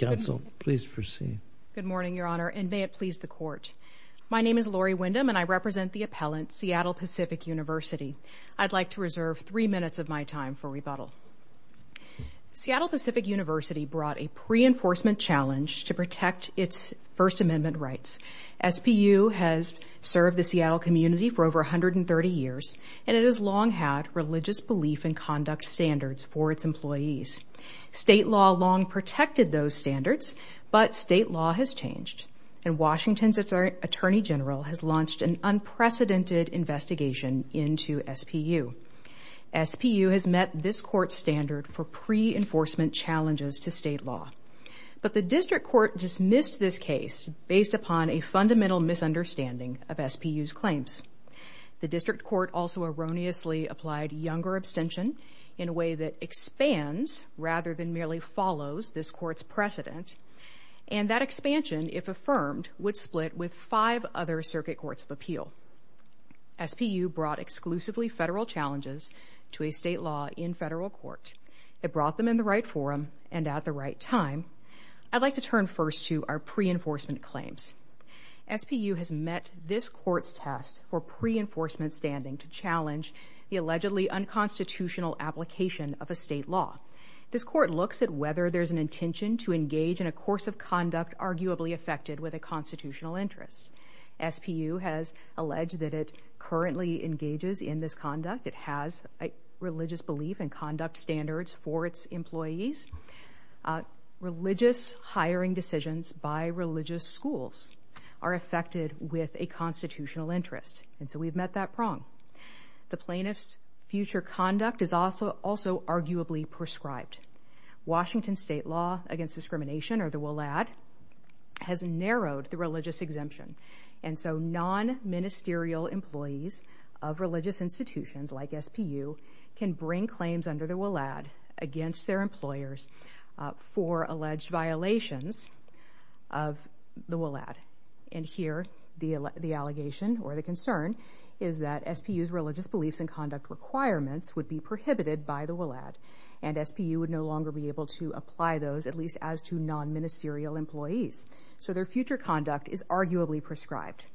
Good morning, Your Honor, and may it please the Court. My name is Lori Windham, and I represent the appellant, Seattle Pacific University. I'd like to reserve three minutes of my time for rebuttal. Seattle Pacific University brought a pre-enforcement challenge to protect its First Amendment rights. SPU has served the Seattle community for over 130 years, and it has long had religious belief and conduct standards for its employees. State law long protected those standards, but state law has changed, and Washington's Attorney General has launched an unprecedented investigation into SPU. SPU has met this Court's standard for pre-enforcement challenges to state law. But the District Court dismissed this case based upon a fundamental misunderstanding of SPU's claims. The District Court also erroneously applied younger abstention in a way that expands rather than merely follows this Court's precedent, and that expansion, if affirmed, would split with five other Circuit Courts of Appeal. SPU brought exclusively federal challenges to a state law in federal court. It brought them in the right forum and at the right time. I'd like to turn first to our pre-enforcement claims. SPU has met this Court's test for pre-enforcement standing to challenge the allegedly unconstitutional application of a state law. This Court looks at whether there's an intention to engage in a course of conduct arguably affected with a constitutional interest. SPU has alleged that it currently engages in this conduct. It has a religious belief and conduct standards for its employees. Religious hiring decisions by religious schools are affected with a constitutional interest, and so we've met that prong. The plaintiff's future conduct is also arguably prescribed. Washington State Law Against Discrimination, or the WLAD, has narrowed the religious exemption, and so non-ministerial employees of religious institutions like SPU can bring claims under the WLAD against their employers for alleged violations of the WLAD, and here the allegation or the concern is that SPU's religious beliefs and conduct requirements would be prohibited by the WLAD, and SPU would no longer be able to apply those, at least as to non-ministerial employees. So their future conduct is arguably prescribed.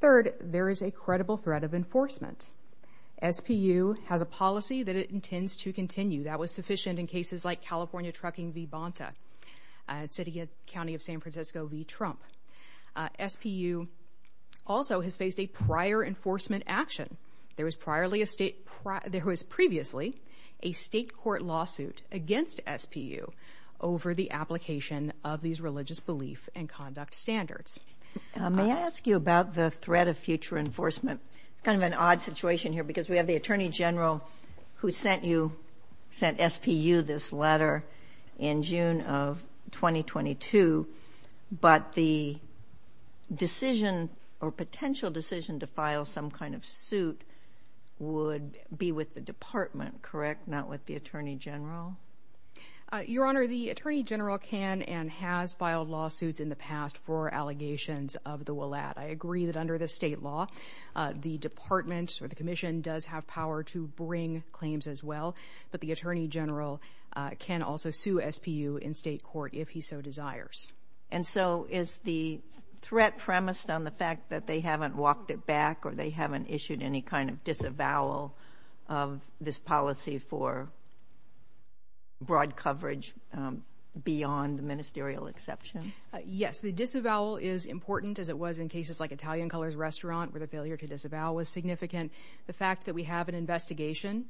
Third, there is a credible threat of enforcement. SPU has a policy that it intends to continue. That was sufficient in cases like California trucking v. Bonta, at City and County of San Francisco v. Trump. SPU also has faced a prior enforcement action. There was previously a state court lawsuit against SPU over the application of these religious belief and conduct standards. May I ask you about the threat of future enforcement? It's kind of an odd situation here because we have the Attorney General who sent you, sent SPU this letter in June of 2022, but the decision or potential decision to file some kind of suit would be with the department, correct, not with the Attorney General? Your Honor, the Attorney General can and has filed lawsuits in the past for allegations of the WLAD. I agree that under the state law, the department or the commission does have power to bring claims as well, but the Attorney General can also sue SPU in state court if he so desires. And so is the threat premised on the fact that they haven't walked it back or they haven't brought coverage beyond the ministerial exception? Yes, the disavowal is important as it was in cases like Italian Colors Restaurant where the failure to disavow was significant. The fact that we have an investigation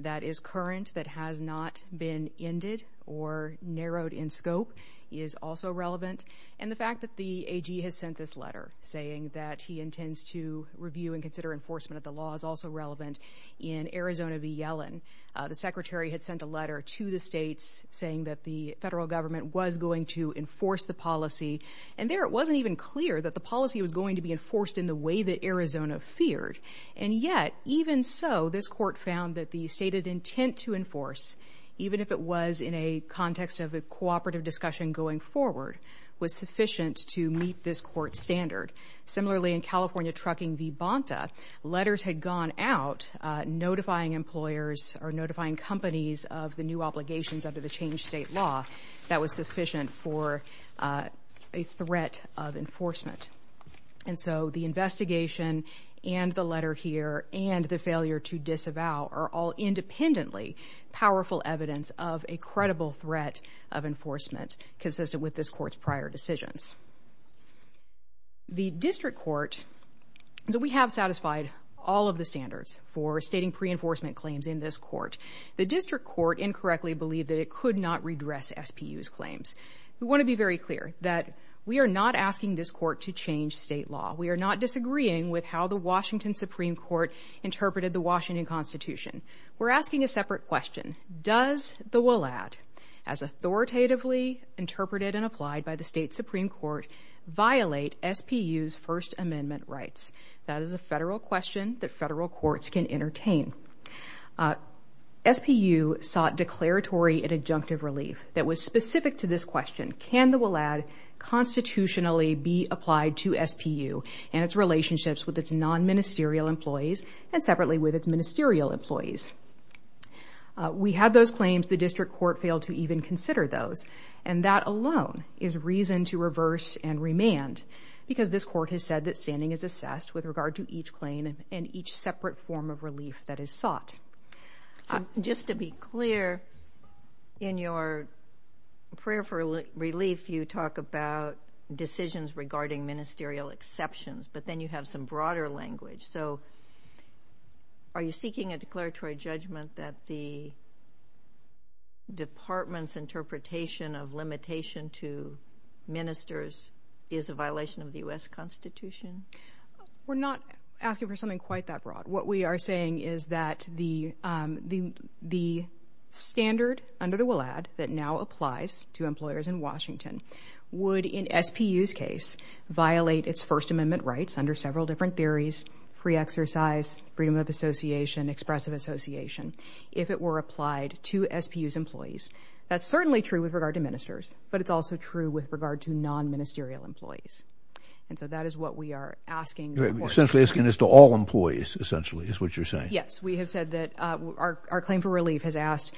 that is current that has not been ended or narrowed in scope is also relevant. And the fact that the AG has sent this letter saying that he intends to review and consider enforcement of the law is also relevant. In Arizona v. Yellen, the secretary had sent a letter to the states saying that the federal government was going to enforce the policy. And there it wasn't even clear that the policy was going to be enforced in the way that Arizona feared. And yet, even so, this court found that the stated intent to enforce, even if it was in a context of a cooperative discussion going forward, was sufficient to meet this court standard. Similarly, in California Trucking v. Bonta, letters had gone out notifying employers or notifying companies of the new obligations under the changed state law that was sufficient for a threat of enforcement. And so the investigation and the letter here and the failure to disavow are all independently powerful evidence of a credible threat of enforcement consistent with this court's prior decisions. The district court, so we have satisfied all of the standards for stating pre-enforcement claims in this court. The district court incorrectly believed that it could not redress SPU's claims. We want to be very clear that we are not asking this court to change state law. We are not disagreeing with how the Washington Supreme Court interpreted the Washington Constitution. We're asking a separate question. Does the WLAD, as authoritatively interpreted and applied by the state Supreme Court, violate SPU's First Amendment rights? That is a federal question that federal courts can entertain. SPU sought declaratory and adjunctive relief that was specific to this question. Can the WLAD constitutionally be applied to SPU and its relationships with its non-ministerial employees and separately with its ministerial employees? We had those claims. The district court failed to even consider those. And that alone is reason to reverse and remand because this court has said that standing is assessed with regard to each claim and each separate form of relief that is sought. Just to be clear, in your prayer for relief, you talk about decisions regarding ministerial exceptions, but then you have some broader language. So are you seeking a declaratory judgment that the department's interpretation of limitation to ministers is a violation of the U.S. Constitution? We're not asking for something quite that broad. What we are saying is that the standard under the WLAD that now applies to employers in Washington would, in SPU's case, violate its First Amendment rights under several different categories, free exercise, freedom of association, expressive association, if it were applied to SPU's employees. That's certainly true with regard to ministers, but it's also true with regard to non-ministerial employees. And so that is what we are asking. You're essentially asking this to all employees, essentially, is what you're saying. Yes. We have said that our claim for relief has asked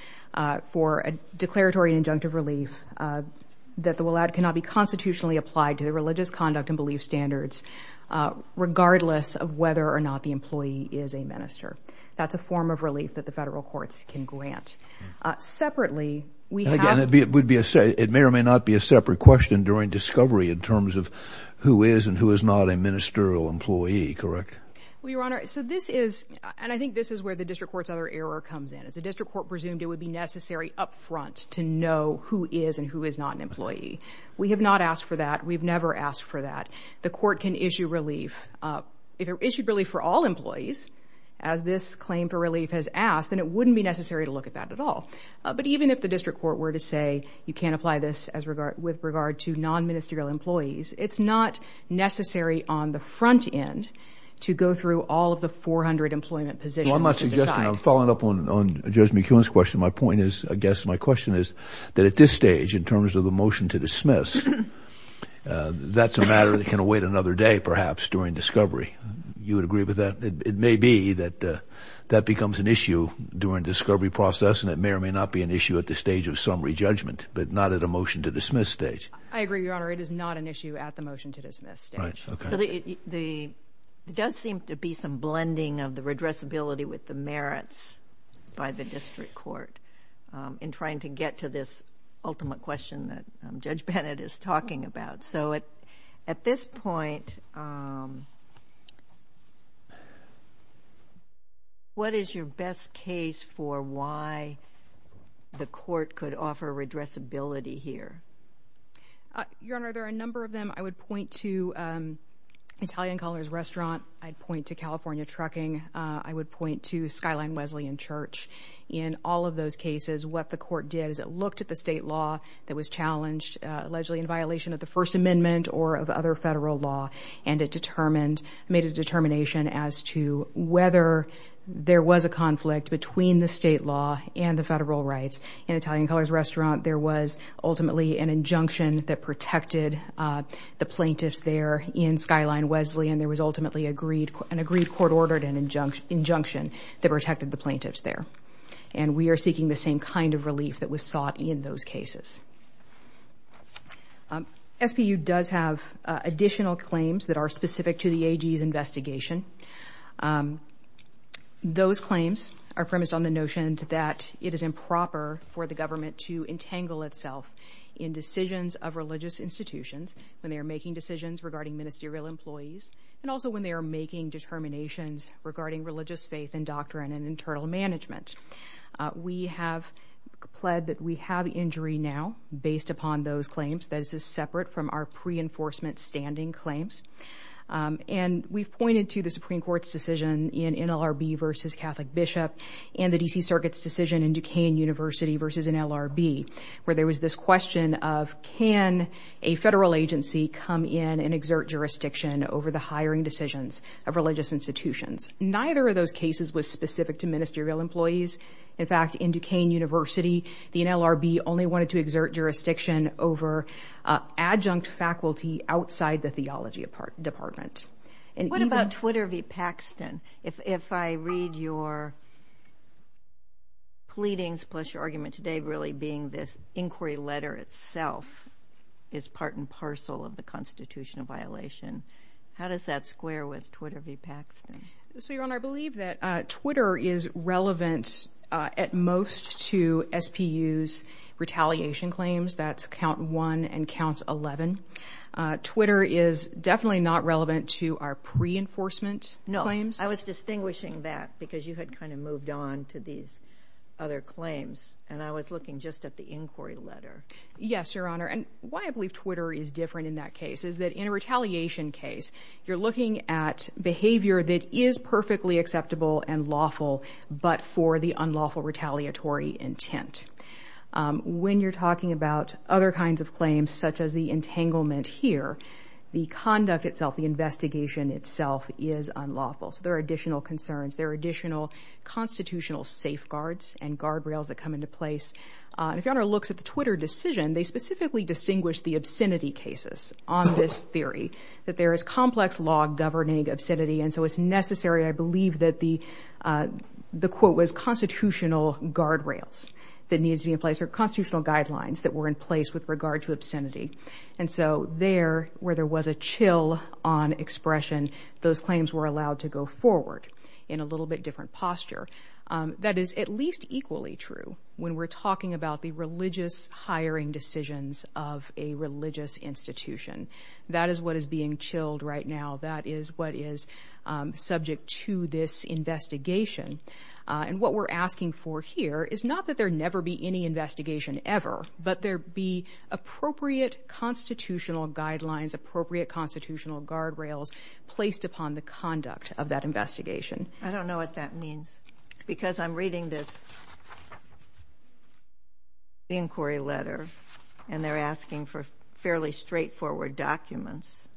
for a declaratory and adjunctive relief that the WLAD cannot be constitutionally applied to the religious conduct and belief standards regardless of whether or not the employee is a minister. That's a form of relief that the federal courts can grant. Separately, we have... And again, it may or may not be a separate question during discovery in terms of who is and who is not a ministerial employee, correct? Well, Your Honor, so this is, and I think this is where the district court's other error comes in. As the district court presumed, it would be necessary up front to know who is and who is not an employee. We have not asked for that. We've never asked for that. The court can issue relief. If it issued relief for all employees, as this claim for relief has asked, then it wouldn't be necessary to look at that at all. But even if the district court were to say you can't apply this with regard to non-ministerial employees, it's not necessary on the front end to go through all of the 400 employment positions to decide. Well, I'm not suggesting... I'm following up on Judge McKeown's question. My point is, I guess my question is that at this stage, in terms of the motion to dismiss, that's a matter that can await another day, perhaps, during discovery. You would agree with that? It may be that that becomes an issue during the discovery process, and it may or may not be an issue at the stage of summary judgment, but not at a motion to dismiss stage. I agree, Your Honor. It is not an issue at the motion to dismiss stage. Right. Okay. It does seem to be some blending of the redressability with the merits by the district court in trying to get to this ultimate question that Judge Bennett is talking about. So at this point, what is your best case for why the court could offer redressability here? Your Honor, there are a number of them. I would point to Italian Callers Restaurant. I'd point to California Trucking. I would point to Skyline Wesleyan Church. In all of those cases, what the court did is it looked at the state law that was challenged, allegedly in violation of the First Amendment or of other federal law, and it made a determination as to whether there was a conflict between the state law and the federal rights. In Italian Callers Restaurant, there was ultimately an injunction that protected the plaintiffs there in Skyline Wesleyan. And there was ultimately an agreed court order and an injunction that protected the plaintiffs there. And we are seeking the same kind of relief that was sought in those cases. SPU does have additional claims that are specific to the AG's investigation. Those claims are premised on the notion that it is improper for the government to entangle itself in decisions of religious institutions when they are making decisions regarding ministerial employees, and also when they are making determinations regarding religious faith and doctrine and internal management. We have pled that we have injury now, based upon those claims, that this is separate from our pre-enforcement standing claims. And we've pointed to the Supreme Court's decision in NLRB v. Catholic Bishop and the D.C. Circuit's decision in Duquesne University v. NLRB, where there was this question of can a federal agency come in and exert jurisdiction over the hiring decisions of religious institutions? Neither of those cases was specific to ministerial employees. In fact, in Duquesne University, the NLRB only wanted to exert jurisdiction over adjunct faculty outside the theology department. And even- What about Twitter v. Paxton? If, if I read your pleadings, plus your argument today really being this inquiry letter itself is part and parcel of the constitutional violation, how does that square with Twitter v. Paxton? So, Your Honor, I believe that Twitter is relevant at most to SPU's retaliation claims. That's count one and count eleven. Twitter is definitely not relevant to our pre-enforcement claims. I was distinguishing that because you had kind of moved on to these other claims. And I was looking just at the inquiry letter. Yes, Your Honor. And why I believe Twitter is different in that case is that in a retaliation case, you're looking at behavior that is perfectly acceptable and lawful, but for the unlawful retaliatory intent. When you're talking about other kinds of claims, such as the entanglement here, the conduct itself, the investigation itself is unlawful. So there are additional concerns. There are additional constitutional safeguards and guardrails that come into place. And if Your Honor looks at the Twitter decision, they specifically distinguish the obscenity cases on this theory, that there is complex law governing obscenity. And so it's necessary, I believe, that the, the quote was constitutional guardrails that needed to be in place or constitutional guidelines that were in place with regard to obscenity. And so there, where there was a chill on expression, those claims were allowed to go forward in a little bit different posture. That is at least equally true when we're talking about the religious hiring decisions of a religious institution. That is what is being chilled right now. That is what is subject to this investigation. And what we're asking for here is not that there never be any investigation ever, but there be appropriate constitutional guidelines, appropriate constitutional guardrails placed upon the conduct of that investigation. I don't know what that means because I'm reading this inquiry letter and they're asking for fairly straightforward documents.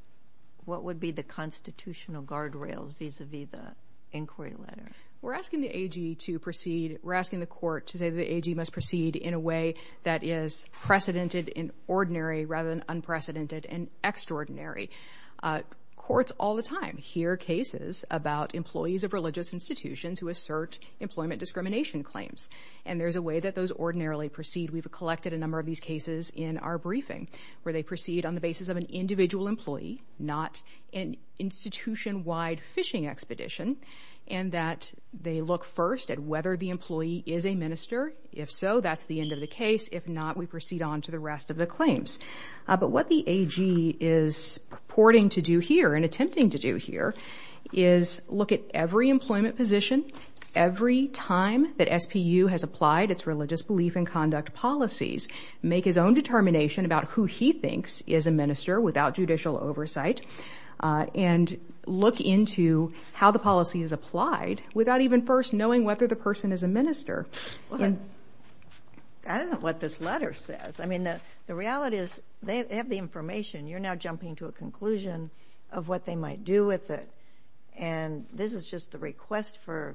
What would be the constitutional guardrails vis-a-vis the inquiry letter? We're asking the AG to proceed. We're asking the court to say that the AG must proceed in a way that is precedented in ordinary rather than unprecedented and extraordinary. Courts all the time hear cases about employees of religious institutions who assert employment discrimination claims. And there's a way that those ordinarily proceed. We've collected a number of these cases in our briefing where they proceed on the basis of an individual employee, not an institution-wide fishing expedition, and that they look first at whether the employee is a minister. If so, that's the end of the case. If not, we proceed on to the rest of the claims. But what the AG is purporting to do here and attempting to do here is look at every employment position, every time that SPU has applied its religious belief in conduct policies, make his own determination about who he thinks is a minister without judicial oversight, and look into how the policy is applied without even first knowing whether the person is a minister. Go ahead. I don't know what this letter says. I mean, the reality is they have the information. You're now jumping to a conclusion of what they might do with it. And this is just the request for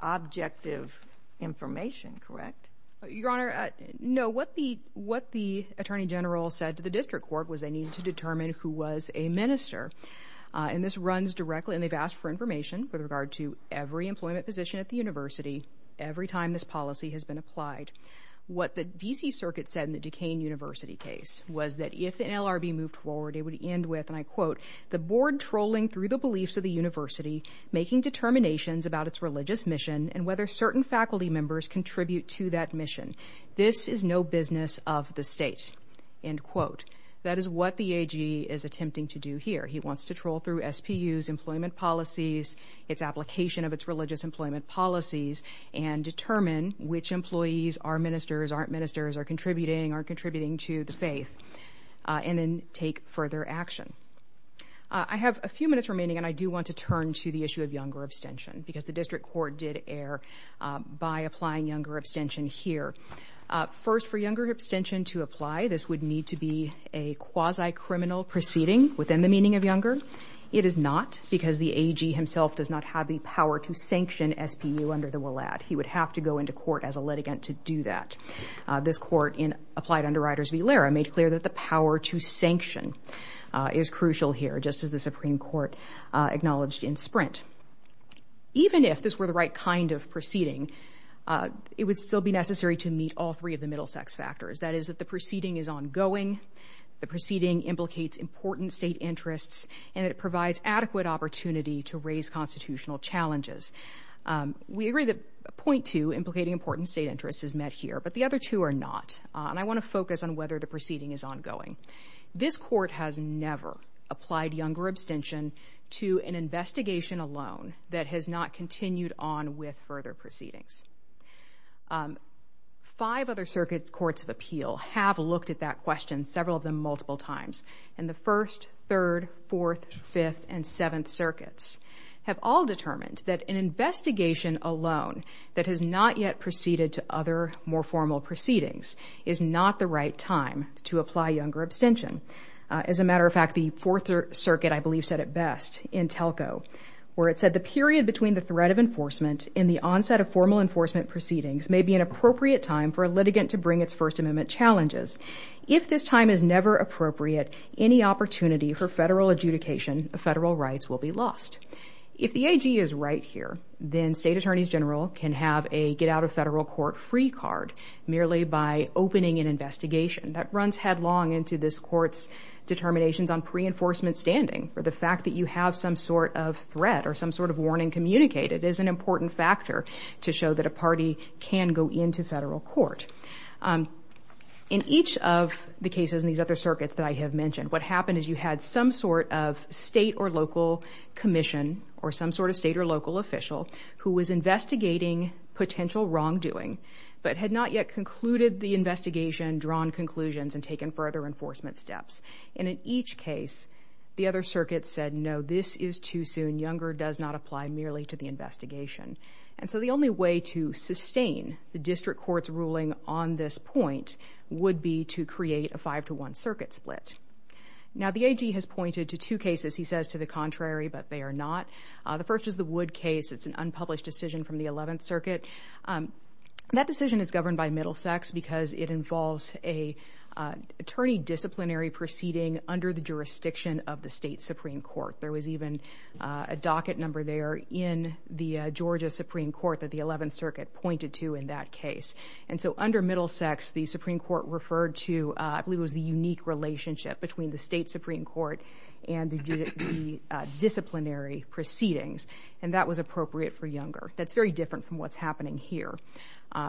objective information, correct? Your Honor, no. What the Attorney General said to the District Court was they needed to determine who was a minister. And this runs directly, and they've asked for information with regard to every employment position at the university, every time this policy has been applied. What the D.C. Circuit said in the Duquesne University case was that if an LRB moved forward, it would end with, and I quote, the board trolling through the beliefs of the university, making determinations about its religious mission, and whether certain faculty members contribute to that mission. This is no business of the state, end quote. That is what the AG is attempting to do here. He wants to troll through SPU's employment policies, its application of its religious employment policies, and determine which employees are ministers, aren't ministers, are contributing, aren't contributing to the faith, and then take further action. I have a few minutes remaining, and I do want to turn to the issue of younger abstention, because the District Court did err by applying younger abstention here. First, for younger abstention to apply, this would need to be a quasi-criminal proceeding within the meaning of younger. It is not, because the AG himself does not have the power to sanction SPU under the WLAD. He would have to go into court as a litigant to do that. This court, in Applied Underwriters v. Lara, made clear that the power to sanction is crucial here, just as the Supreme Court acknowledged in Sprint. Even if this were the right kind of proceeding, it would still be necessary to meet all three of the Middlesex factors, that is, that the proceeding is ongoing, the proceeding implicates important state interests, and it provides adequate opportunity to raise constitutional challenges. We agree that point two, implicating important state interests, is met here, but the other two are not, and I want to focus on whether the proceeding is ongoing. This court has never applied younger abstention to an investigation alone that has not continued on with further proceedings. Five other circuit courts of appeal have looked at that question, several of them multiple times, and the First, Third, Fourth, Fifth, and Seventh Circuits have all determined that an investigation alone that has not yet proceeded to other, more formal proceedings is not the right time to apply younger abstention. As a matter of fact, the Fourth Circuit, I believe, said it best in Telco, where it said the period between the threat of enforcement and the onset of formal enforcement proceedings may be an appropriate time for a litigant to bring its First Amendment challenges. If this time is never appropriate, any opportunity for federal adjudication of federal rights will be lost. If the AG is right here, then state attorneys general can have a get-out-of-federal-court-free card merely by opening an investigation. That runs headlong into this court's determinations on pre-enforcement standing, for the fact that you have some sort of threat or some sort of warning communicated is an important factor to show that a party can go into federal court. In each of the cases in these other circuits that I have mentioned, what happened is you had some sort of state or local commission or some sort of state or local official who was investigating potential wrongdoing, but had not yet concluded the investigation, drawn conclusions and taken further enforcement steps. And in each case, the other circuit said, no, this is too soon. Younger does not apply merely to the investigation. And so the only way to sustain the district court's ruling on this point would be to create a five-to-one circuit split. Now the AG has pointed to two cases, he says, to the contrary, but they are not. The first is the Wood case. It's an unpublished decision from the 11th Circuit. That decision is governed by Middlesex because it involves an attorney disciplinary proceeding under the jurisdiction of the state Supreme Court. There was even a docket number there in the Georgia Supreme Court that the 11th Circuit pointed to in that case. And so under Middlesex, the Supreme Court referred to, I believe it was the unique relationship between the state Supreme Court and the disciplinary proceedings. And that was appropriate for Younger. That's very different from what's happening here.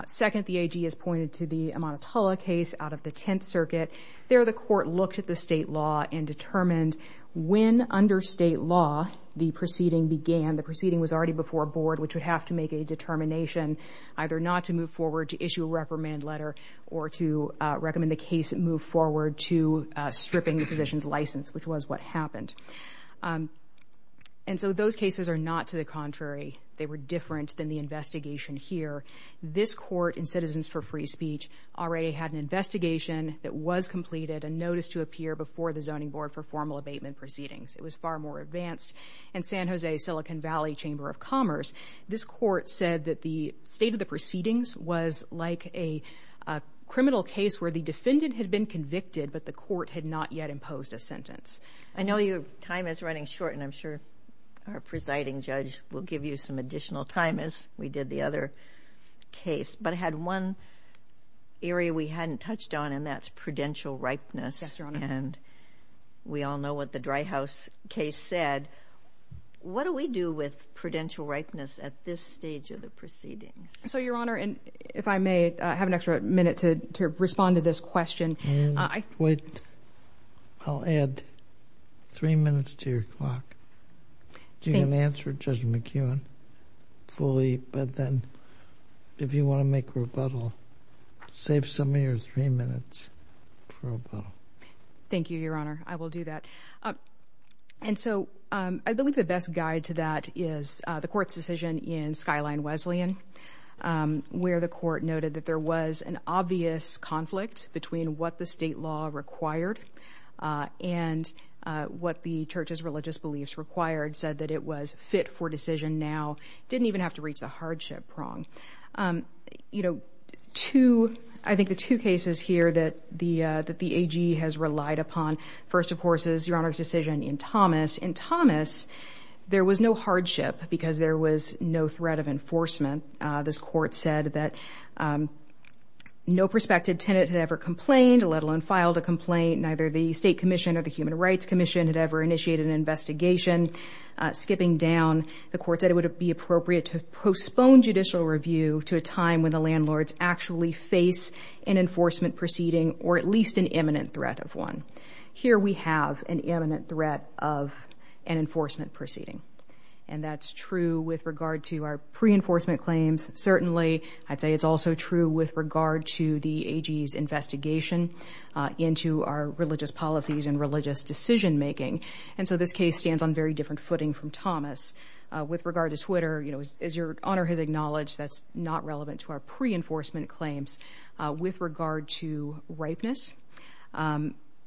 Second, the AG has pointed to the Amatullah case out of the 10th Circuit. There the court looked at the state law and determined when under state law the proceeding began. The proceeding was already before a board, which would have to make a determination either not to move forward to issue a reprimand letter or to recommend the case move forward to stripping the position's license, which was what happened. And so those cases are not to the contrary. They were different than the investigation here. This court in Citizens for Free Speech already had an investigation that was completed, a notice to appear before the Zoning Board for formal abatement proceedings. It was far more advanced. And San Jose Silicon Valley Chamber of Commerce, this court said that the state of the proceedings was like a criminal case where the defendant had been convicted, but the court had not yet imposed a sentence. I know your time is running short, and I'm sure our presiding judge will give you some additional time, as we did the other case. But I had one area we hadn't touched on, and that's prudential ripeness. Yes, Your Honor. And we all know what the Dry House case said. What do we do with prudential ripeness at this stage of the proceedings? So Your Honor, and if I may have an extra minute to respond to this question, I would I'll add three minutes to your clock, so you can answer Judge McEwen fully, but then if you want to make rebuttal, save some of your three minutes for rebuttal. Thank you, Your Honor. I will do that. And so I believe the best guide to that is the court's decision in Skyline Wesleyan, where the court noted that there was an obvious conflict between what the state law required and what the church's religious beliefs required, said that it was fit for decision now, didn't even have to reach the hardship prong. You know, I think the two cases here that the AG has relied upon, first, of course, is Your Honor's decision in Thomas. In Thomas, there was no hardship because there was no threat of enforcement. This court said that no prospective tenant had ever complained, let alone filed a complaint. Neither the state commission or the human rights commission had ever initiated an investigation. Skipping down, the court said it would be appropriate to postpone judicial review to a time when the landlords actually face an enforcement proceeding or at least an imminent threat of one. Here we have an imminent threat of an enforcement proceeding. And that's true with regard to our pre-enforcement claims. Certainly, I'd say it's also true with regard to the AG's investigation into our religious policies and religious decision-making. And so this case stands on very different footing from Thomas. With regard to Twitter, you know, as Your Honor has acknowledged, that's not relevant to our pre-enforcement claims. With regard to ripeness,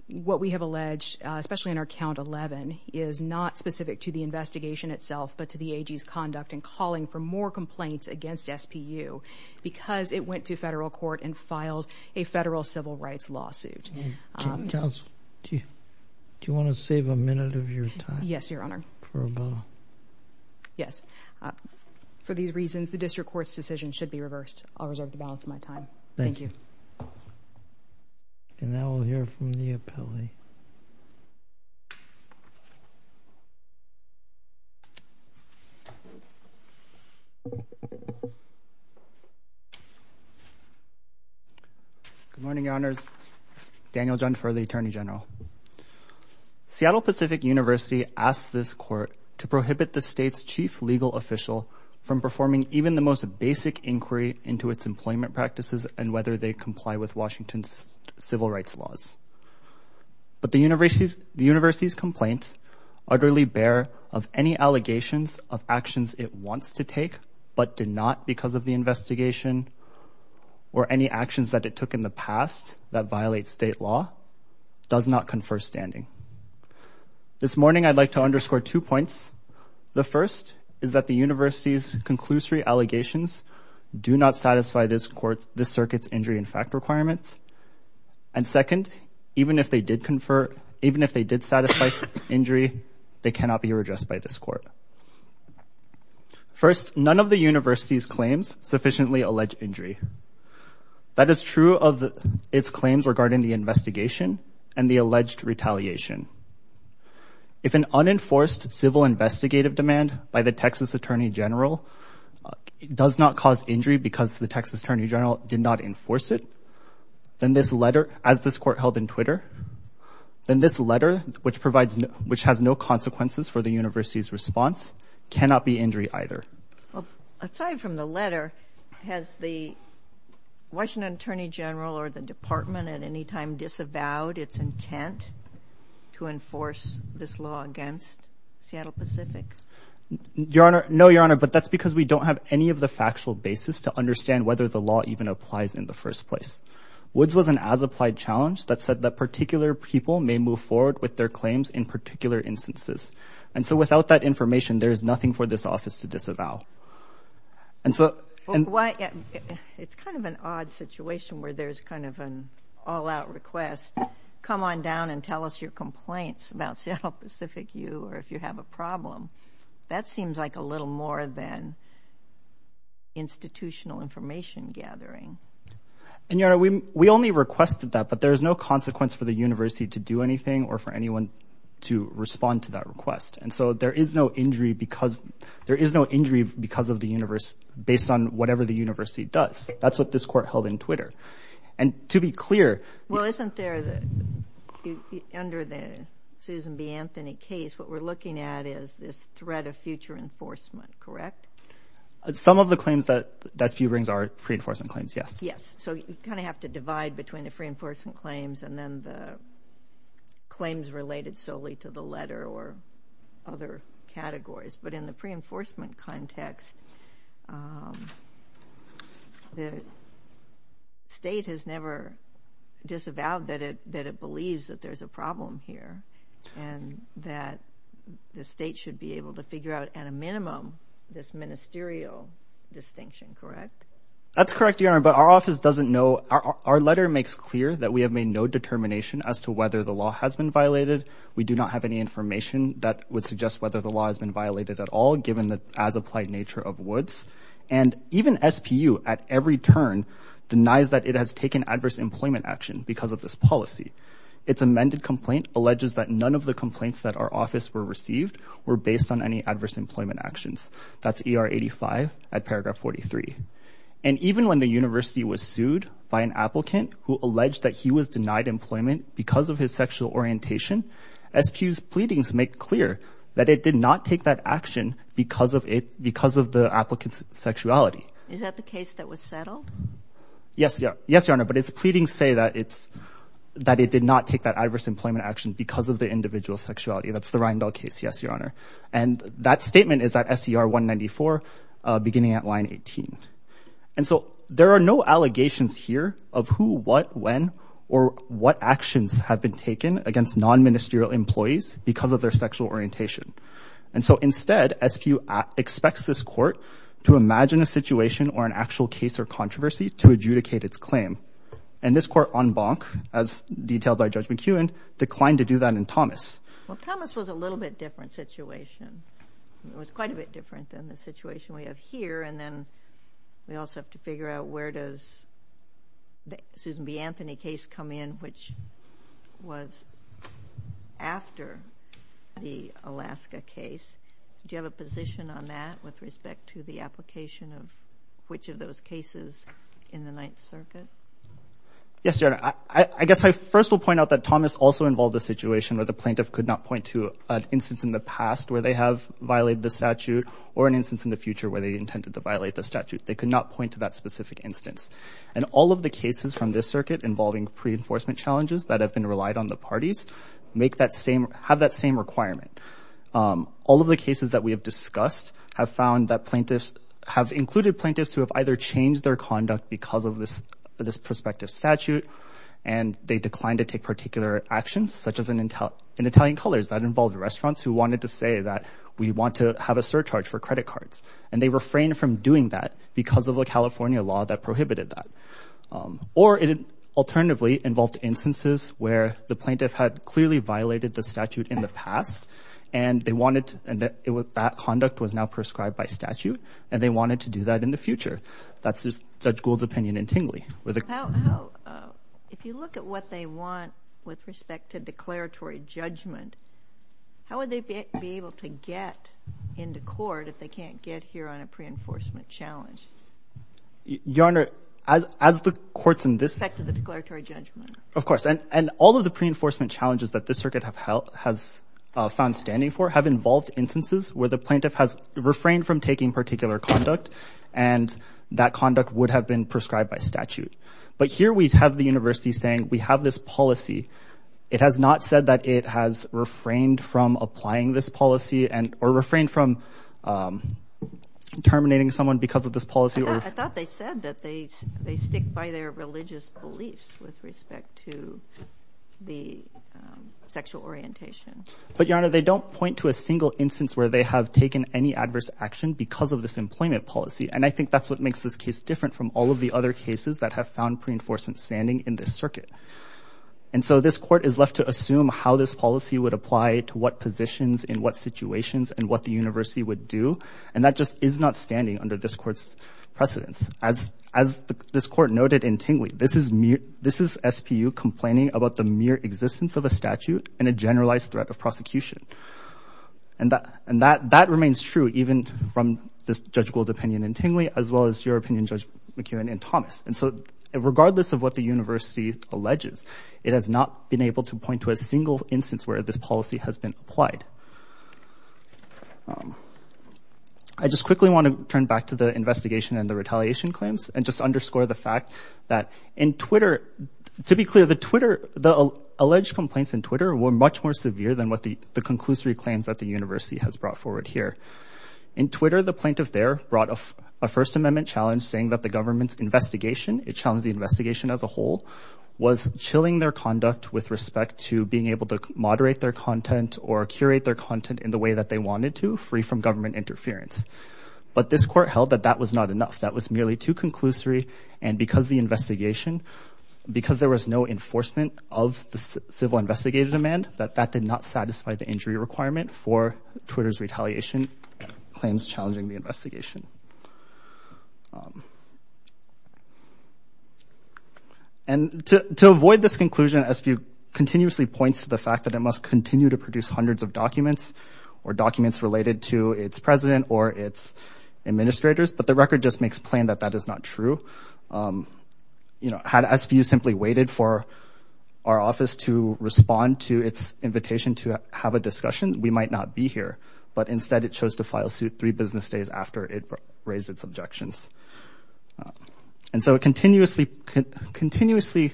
what we have alleged, especially in our count 11, is not specific to the investigation itself, but to the AG's conduct in calling for more complaints against SPU because it went to federal court and filed a federal civil rights lawsuit. Counsel, do you want to save a minute of your time? Yes, Your Honor. For a moment. Yes. For these reasons, the district court's decision should be reversed. I'll reserve the balance of my time. Thank you. And now we'll hear from the appellee. Good morning, Your Honors. Daniel Junfer, the Attorney General. Seattle Pacific University asked this court to prohibit the state's chief legal official from performing even the most basic inquiry into its employment practices and whether they comply with Washington's civil rights laws. But the university's complaint utterly bear of any allegations of actions it wants to take but did not because of the investigation or any actions that it took in the past that did not confer standing. This morning, I'd like to underscore two points. The first is that the university's conclusory allegations do not satisfy this circuit's injury and fact requirements. And second, even if they did confer, even if they did satisfy injury, they cannot be redressed by this court. First, none of the university's claims sufficiently allege injury. That is true of its claims regarding the investigation and the alleged retaliation. If an unenforced civil investigative demand by the Texas Attorney General does not cause injury because the Texas Attorney General did not enforce it, then this letter, as this court held in Twitter, then this letter, which provides, which has no consequences for the university's response, cannot be injury either. Aside from the letter, has the Washington Attorney General or the department at any time disavowed its intent to enforce this law against Seattle Pacific? Your Honor, no, Your Honor, but that's because we don't have any of the factual basis to understand whether the law even applies in the first place. Woods was an as-applied challenge that said that particular people may move forward with their claims in particular instances. And so without that information, there is nothing for this office to disavow. And so... It's kind of an odd situation where there's kind of an all-out request, come on down and tell us your complaints about Seattle Pacific U or if you have a problem. That seems like a little more than institutional information gathering. And Your Honor, we only requested that, but there is no consequence for the university to do anything or for anyone to respond to that request. And so there is no injury because, there is no injury because of the university based on whatever the university does. That's what this court held in Twitter. And to be clear... Well, isn't there, under the Susan B. Anthony case, what we're looking at is this threat of future enforcement, correct? Some of the claims that SBU brings are pre-enforcement claims, yes. Yes. So you kind of have to divide between the pre-enforcement claims and then the claims related solely to the letter or other categories. But in the pre-enforcement context, the state has never disavowed that it believes that there's a problem here and that the state should be able to figure out at a minimum this ministerial distinction, correct? That's correct, Your Honor. But our office doesn't know, our letter makes clear that we have made no determination as to whether the law has been violated. We do not have any information that would suggest whether the law has been violated at all, given the as applied nature of Woods. And even SPU at every turn denies that it has taken adverse employment action because of this policy. Its amended complaint alleges that none of the complaints that our office were received were based on any adverse employment actions. That's ER 85 at paragraph 43. And even when the university was sued by an applicant who alleged that he was denied employment because of his sexual orientation, SPU's pleadings make clear that it did not take that action because of it, because of the applicant's sexuality. Is that the case that was settled? Yes. Yes, Your Honor. But its pleadings say that it's, that it did not take that adverse employment action because of the individual's sexuality. That's the Reindell case. Yes, Your Honor. And that statement is at SCR 194, beginning at line 18. And so there are no allegations here of who, what, when, or what actions have been taken against non-ministerial employees because of their sexual orientation. And so instead, SPU expects this court to imagine a situation or an actual case or controversy to adjudicate its claim. And this court on Bonk, as detailed by Judge McEwen, declined to do that in Thomas. Well, Thomas was a little bit different situation. It was quite a bit different than the situation we have here. And then we also have to figure out where does the Susan B. Anthony case come in, which was after the Alaska case. Do you have a position on that with respect to the application of which of those cases in the Ninth Circuit? Yes, Your Honor. I guess I first will point out that Thomas also involved a situation where the plaintiff could not point to an instance in the past where they have violated the statute or an instance in the future where they intended to violate the statute. They could not point to that specific instance. And all of the cases from this circuit involving pre-enforcement challenges that have been relied on the parties have that same requirement. All of the cases that we have discussed have included plaintiffs who have either changed their conduct because of this prospective statute, and they declined to take particular actions, such as in Italian colors, that involved restaurants who wanted to say that we want to have a surcharge for credit cards. And they refrained from doing that because of the California law that prohibited that. Or it alternatively involved instances where the plaintiff had clearly violated the statute in the past, and that conduct was now prescribed by statute, and they wanted to do that in the future. That's Judge Gould's opinion in Tingley. How, if you look at what they want with respect to declaratory judgment, how would they be able to get into court if they can't get here on a pre-enforcement challenge? Your Honor, as the courts in this— With respect to the declaratory judgment. Of course. And all of the pre-enforcement challenges that this circuit has found standing for have involved instances where the plaintiff has refrained from taking particular conduct, and that conduct would have been prescribed by statute. But here we have the university saying, we have this policy. It has not said that it has refrained from applying this policy, or refrained from terminating someone because of this policy. I thought they said that they stick by their religious beliefs with respect to the sexual orientation. But, Your Honor, they don't point to a single instance where they have taken any adverse action because of this employment policy, and I think that's what makes this case different from all of the other cases that have found pre-enforcement standing in this circuit. And so this court is left to assume how this policy would apply to what positions in what situations and what the university would do, and that just is not standing under this court's precedence. As this court noted in Tingley, this is SPU complaining about the mere existence of a threat of prosecution. And that remains true even from this Judge Gould's opinion in Tingley, as well as your opinion Judge McKeown in Thomas. And so regardless of what the university alleges, it has not been able to point to a single instance where this policy has been applied. I just quickly want to turn back to the investigation and the retaliation claims, and just underscore the fact that in Twitter, to be clear, the alleged complaints in Twitter were much more severe than what the conclusory claims that the university has brought forward here. In Twitter, the plaintiff there brought a First Amendment challenge saying that the government's investigation, it challenged the investigation as a whole, was chilling their conduct with respect to being able to moderate their content or curate their content in the way that they wanted to, free from government interference. But this court held that that was not enough, that was merely too conclusory, and because the investigation, because there was no enforcement of the civil investigative demand, that that did not satisfy the injury requirement for Twitter's retaliation claims challenging the investigation. And to avoid this conclusion, SBU continuously points to the fact that it must continue to produce hundreds of documents or documents related to its president or its administrators, but the record just makes plain that that is not true. You know, had SBU simply waited for our office to respond to its invitation to have a discussion, we might not be here, but instead it chose to file suit three business days after it raised its objections. And so it continuously, it continues to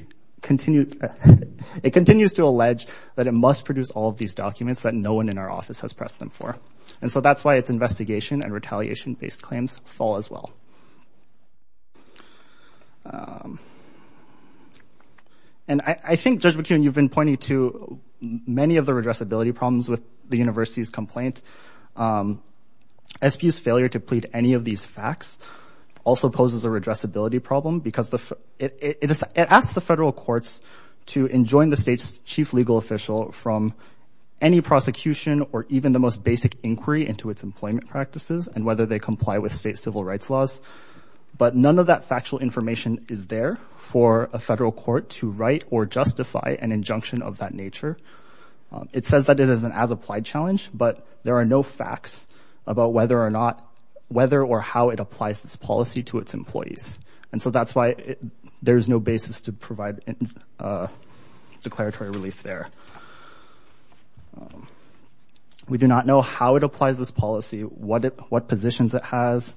allege that it must produce all of these documents that no one in our office has pressed them for, and so that's why its investigation and And I think, Judge McKeown, you've been pointing to many of the redressability problems with the university's complaint. SBU's failure to plead any of these facts also poses a redressability problem because it asks the federal courts to enjoin the state's chief legal official from any prosecution or even the most basic inquiry into its employment practices and whether they comply with state information is there for a federal court to write or justify an injunction of that nature. It says that it is an as-applied challenge, but there are no facts about whether or how it applies this policy to its employees. And so that's why there's no basis to provide declaratory relief there. We do not know how it applies this policy, what positions it has,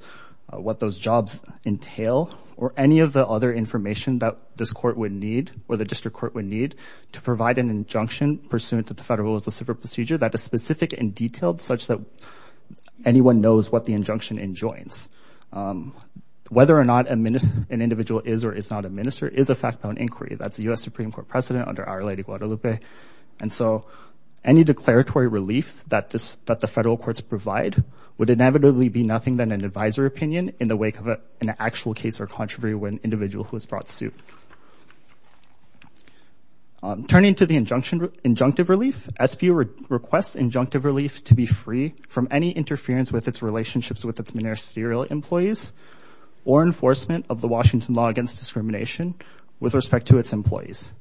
what those jobs entail, or any of the other information that this court would need or the district court would need to provide an injunction pursuant to the federal civil procedure that is specific and detailed such that anyone knows what the injunction enjoins. Whether or not an individual is or is not a minister is a fact-bound inquiry. That's the U.S. Supreme Court precedent under Our Lady of Guadalupe. And so any declaratory relief that the federal courts provide would inevitably be nothing than an advisor opinion in the wake of an actual case or controversy with an individual who has brought suit. Turning to the injunctive relief, SBO requests injunctive relief to be free from any interference with its relationships with its ministerial employees or enforcement of the Washington law against discrimination with respect to its employees.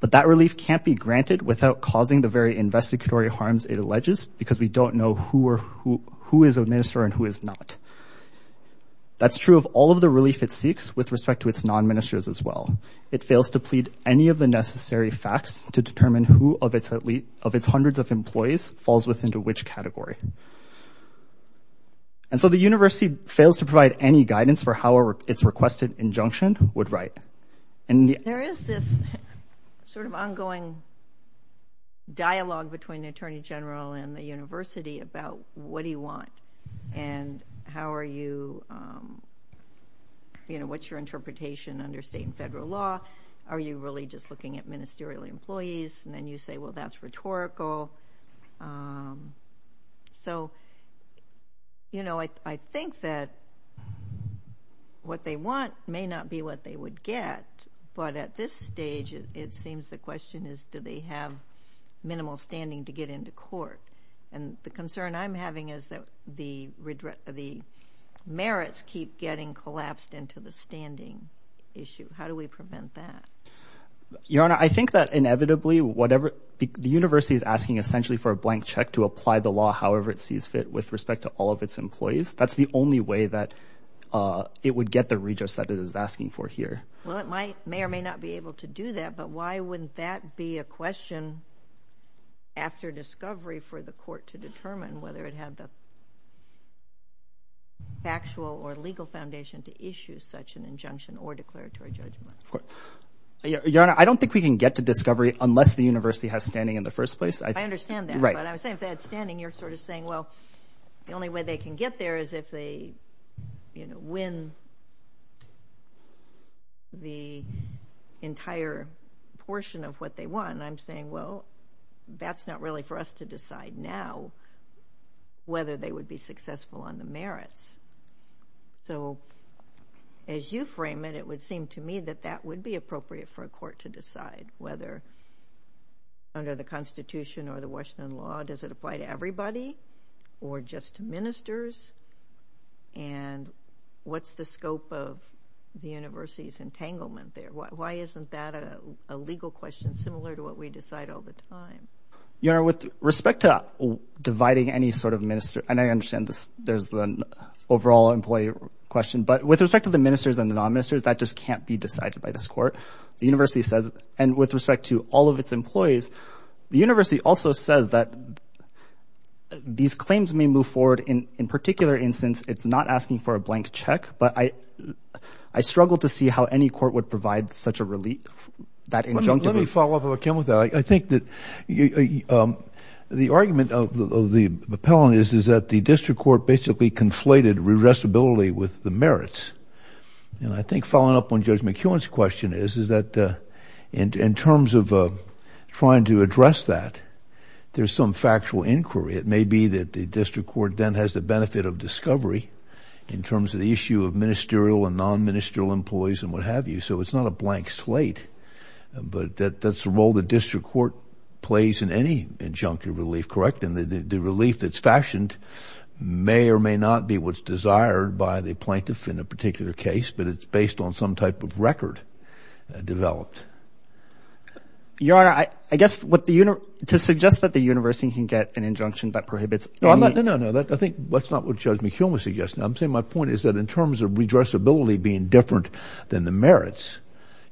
But that relief can't be granted without causing the very investigatory harms it alleges because we don't know who is a minister and who is not. That's true of all of the relief it seeks with respect to its non-ministers as well. It fails to plead any of the necessary facts to determine who of its hundreds of employees falls within to which category. And so the university fails to provide any guidance for how its requested injunction would write. There is this sort of ongoing dialogue between the Attorney General and the university about what do you want and how are you, you know, what's your interpretation under state and federal law? Are you really just looking at ministerial employees? And then you say, well, that's rhetorical. So, you know, I think that what they want may not be what they would get, but at this stage it seems the question is do they have minimal standing to get into court? And the concern I'm having is that the merits keep getting collapsed into the standing issue. How do we prevent that? Your Honor, I think that inevitably whatever, the university is asking essentially for a blank check to apply the law however it sees fit with respect to all of its employees. That's the only way that it would get the redress that it is asking for here. Well, it might, may or may not be able to do that, but why wouldn't that be a question after discovery for the court to determine whether it had the factual or legal foundation to issue such an injunction or declaratory judgment? Your Honor, I don't think we can get to discovery unless the university has standing in the first place. I understand that. But I was saying if they had standing, you're sort of saying, well, the only way they can get there is if they, you know, win the entire portion of what they want. And I'm saying, well, that's not really for us to decide now whether they would be successful on the merits. So, as you frame it, it would seem to me that that would be appropriate for a court to decide whether under the Constitution or the Washington law, does it apply to everybody or just to ministers? And what's the scope of the university's entanglement there? Why isn't that a legal question similar to what we decide all the time? Your Honor, with respect to dividing any sort of minister, and I understand there's an overall employee question, but with respect to the ministers and the non-ministers, that just can't be decided by this court. The university says, and with respect to all of its employees, the university also says that these claims may move forward. In particular instance, it's not asking for a blank check, but I struggle to see how any court would provide such a relief. Let me follow up, I think that the argument of the appellant is that the district court basically conflated redressability with the merits. And I think following up on Judge McKeown's question is that in terms of trying to address that, there's some factual inquiry. It may be that the district court then has the benefit of discovery in terms of the issue of ministerial and non-ministerial employees and what have you. So it's not a blank slate, but that's the role the district court plays in any injunctive relief, correct? And the relief that's fashioned may or may not be what's desired by the plaintiff in a particular case, but it's based on some type of record developed. Your Honor, I guess what the, to suggest that the university can get an injunction that prohibits- No, no, no, no. I think that's not what Judge McKeown was suggesting. I'm saying my point is that in terms of redressability being different than the merits,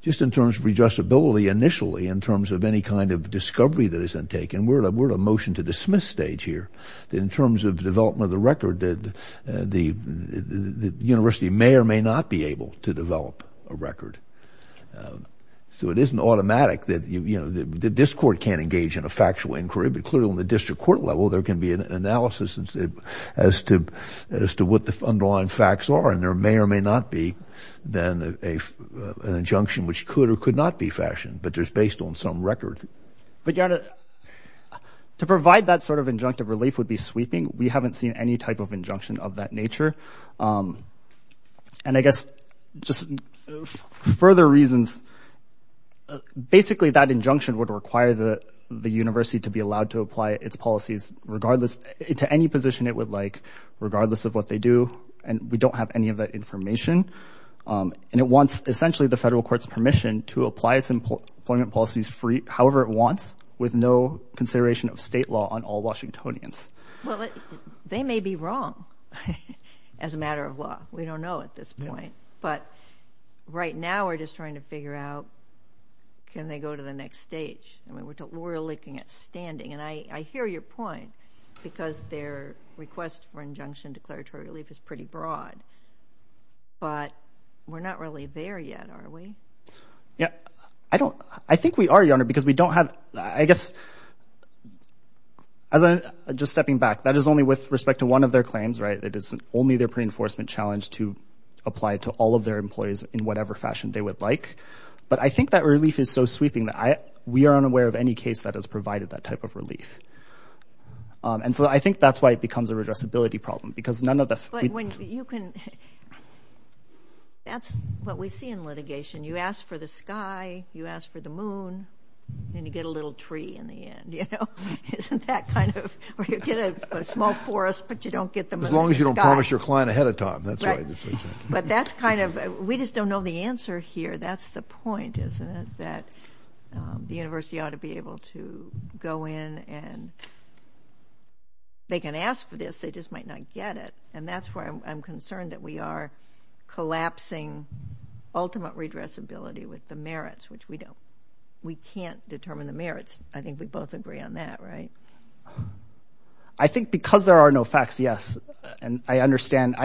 just in terms of redressability initially in terms of any kind of discovery that isn't taken, we're at a motion to dismiss stage here, that in terms of development of the record, that the university may or may not be able to develop a record. So it isn't automatic that, you know, the district court can't engage in a factual inquiry, but clearly on the district court level, there can be an analysis as to what the underlying facts are. And there may or may not be then an injunction which could or could not be fashioned, but there's based on some record. But Your Honor, to provide that sort of injunctive relief would be sweeping. We haven't seen any type of injunction of that nature. And I guess just further reasons, basically that injunction would require the university to be allowed to apply its policies regardless, to any position it would like, regardless of what they do. And we don't have any of that information. And it wants essentially the federal court's permission to apply its employment policies free, however it wants, with no consideration of state law on all Washingtonians. Well, they may be wrong as a matter of law. We don't know at this point, but right now we're just trying to figure out, can they go to the next stage? I mean, we're looking at standing. And I hear your point because their request for injunction declaratory relief is pretty broad, but we're not really there yet, are we? Yeah, I don't, I think we are, Your Honor, because we don't have, I guess, as I'm just stepping back, that is only with respect to one of their claims, right? It is only their pre-enforcement challenge to apply to all of their employees in whatever fashion they would like. But I think that relief is so sweeping that we aren't aware of any case that has provided that type of relief. And so I think that's why it becomes a redressability problem, because none of the... But when you can... That's what we see in litigation. You ask for the sky, you ask for the moon, and you get a little tree in the end, you know? Isn't that kind of... Or you get a small forest, but you don't get the moon, the sky... As long as you don't promise your client ahead of time, that's why this is... But that's kind of... We just don't know the answer here. That's the point, isn't it? That the university ought to be able to go in and... They can ask for this, they just might not get it. And that's why I'm concerned that we are collapsing ultimate redressability with the merits, which we don't... We can't determine the merits. I think we both agree on that, right? I think because there are no facts, yes. And I understand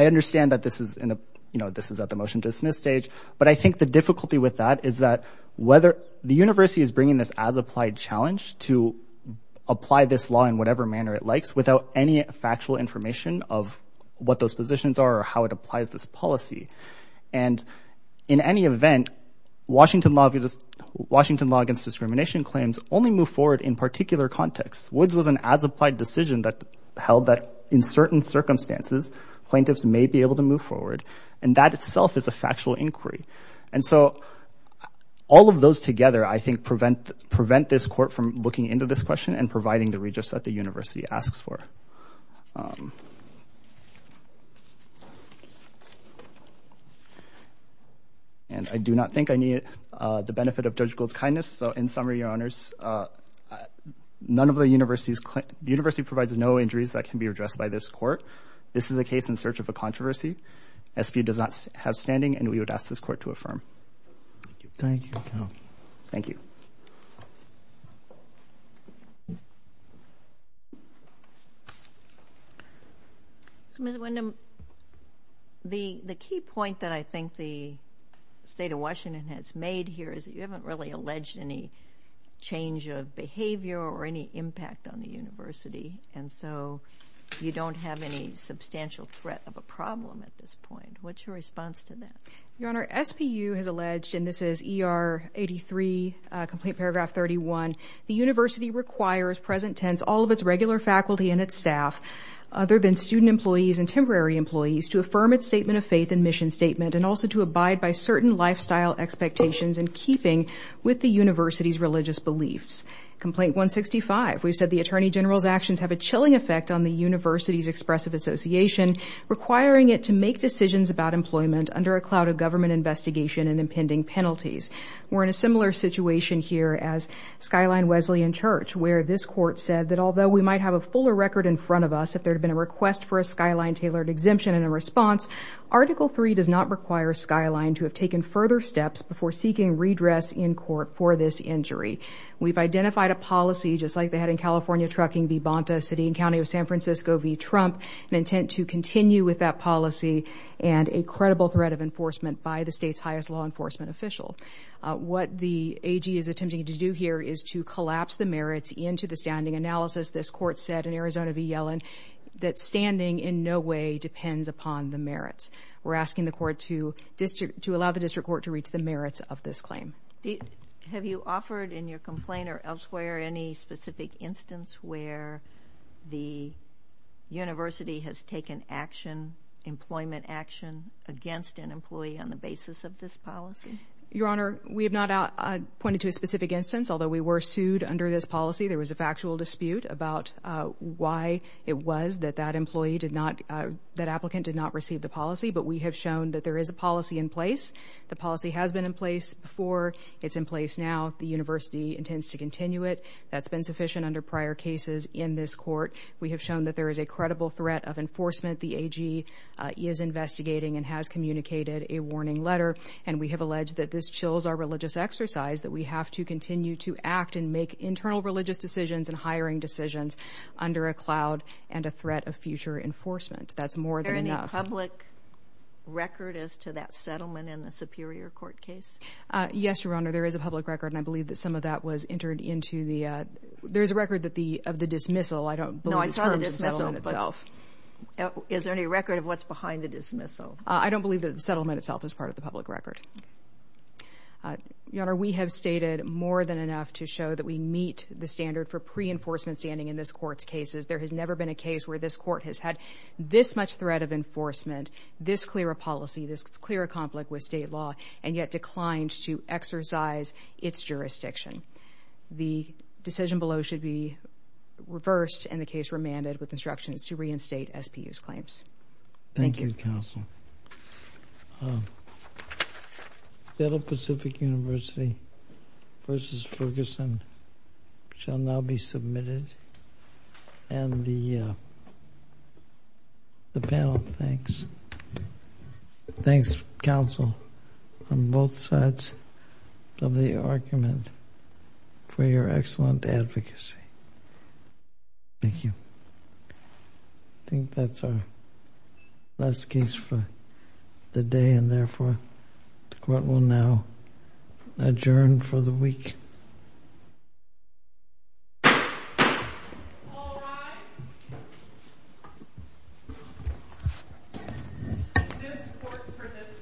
that this is at the motion-dismiss stage. But I think the difficulty with that is that whether... The university is bringing this as-applied challenge to apply this law in whatever manner it likes without any factual information of what those positions are or how it applies this policy. And in any event, Washington law against discrimination claims only move forward in particular contexts. Woods was an as-applied decision that held that in certain circumstances, plaintiffs may be able to move forward. And that itself is a factual inquiry. And so all of those together, I think, prevent this court from looking into this question and providing the redress that the university asks for. And I do not think I need the benefit of Judge Gould's kindness. So in summary, your honors, the university provides no injuries that can be addressed by this court. This is a case in search of a controversy. SBU does not have standing, and we would ask this court to affirm. Thank you. Thank you. Ms. Windham, the key point that I think the state of Washington has made here is you haven't really alleged any change of behavior or any impact on the university. And so you don't have any substantial threat of a problem at this point. What's your response to that? Your honor, SBU has alleged, and this is ER 83, complaint paragraph 31, the university requires present tense all of its regular faculty and its staff, other than student employees and temporary employees, to affirm its statement of faith and mission statement and also to abide by certain lifestyle expectations in keeping with the university's religious beliefs. Complaint 165. We've said the attorney general's actions have a chilling effect on the university's expressive association, requiring it to make decisions about employment under a cloud of government investigation and impending penalties. We're in a similar situation here as Skyline Wesleyan Church, where this court said that although we might have a fuller record in front of us, if there had been a request for a Skyline tailored exemption and a response, article three does not require Skyline to have taken further steps before seeking redress in court for this injury. We've identified a policy, just like they had in California trucking v. Bonta, city and county of San Francisco v. Trump, an intent to continue with that policy and a credible threat of enforcement by the state's highest law enforcement official. What the AG is attempting to do here is to collapse the merits into the standing analysis. This court said in Arizona v. Yellen that standing in no way depends upon the merits. We're asking the court to allow the district court to reach the merits of this claim. Have you offered in your complaint or elsewhere any specific instance where the university has taken action, employment action, against an employee on the basis of this policy? Your Honor, we have not pointed to a specific instance. Although we were sued under this policy, there was a factual dispute about why it was that that employee did not, that applicant did not receive the policy. But we have shown that there is a policy in place. The policy has been in place before. It's in place now. The university intends to continue it. That's been sufficient under prior cases in this court. We have shown that there is a credible threat of enforcement. The AG is investigating and has communicated a warning letter. And we have alleged that this chills our religious exercise, that we have to continue to act and make internal religious decisions and hiring decisions under a cloud and a threat of future enforcement. That's more than enough. Is there a public record as to that settlement in the Superior Court case? Yes, Your Honor, there is a public record and I believe that some of that was entered into the, there's a record that the, of the dismissal. I don't believe it's part of the settlement itself. No, I saw the dismissal, but is there any record of what's behind the dismissal? I don't believe that the settlement itself is part of the public record. Your Honor, we have stated more than enough to show that we meet the standard for pre-enforcement standing in this court's cases. There has never been a case where this court has had this much threat of enforcement, this clear a policy, this clear a conflict with state law, and yet declined to exercise its jurisdiction. The decision below should be reversed and the case remanded with instructions to reinstate SPU's claims. Thank you. Thank you, counsel. The State of Pacific University v. Ferguson shall now be submitted and the panel thanks. Thanks counsel on both sides of the argument for your excellent advocacy. Thank you. I think that's our last case for the day and therefore the court will now adjourn for the week. All rise. This court for this session stands adjourned.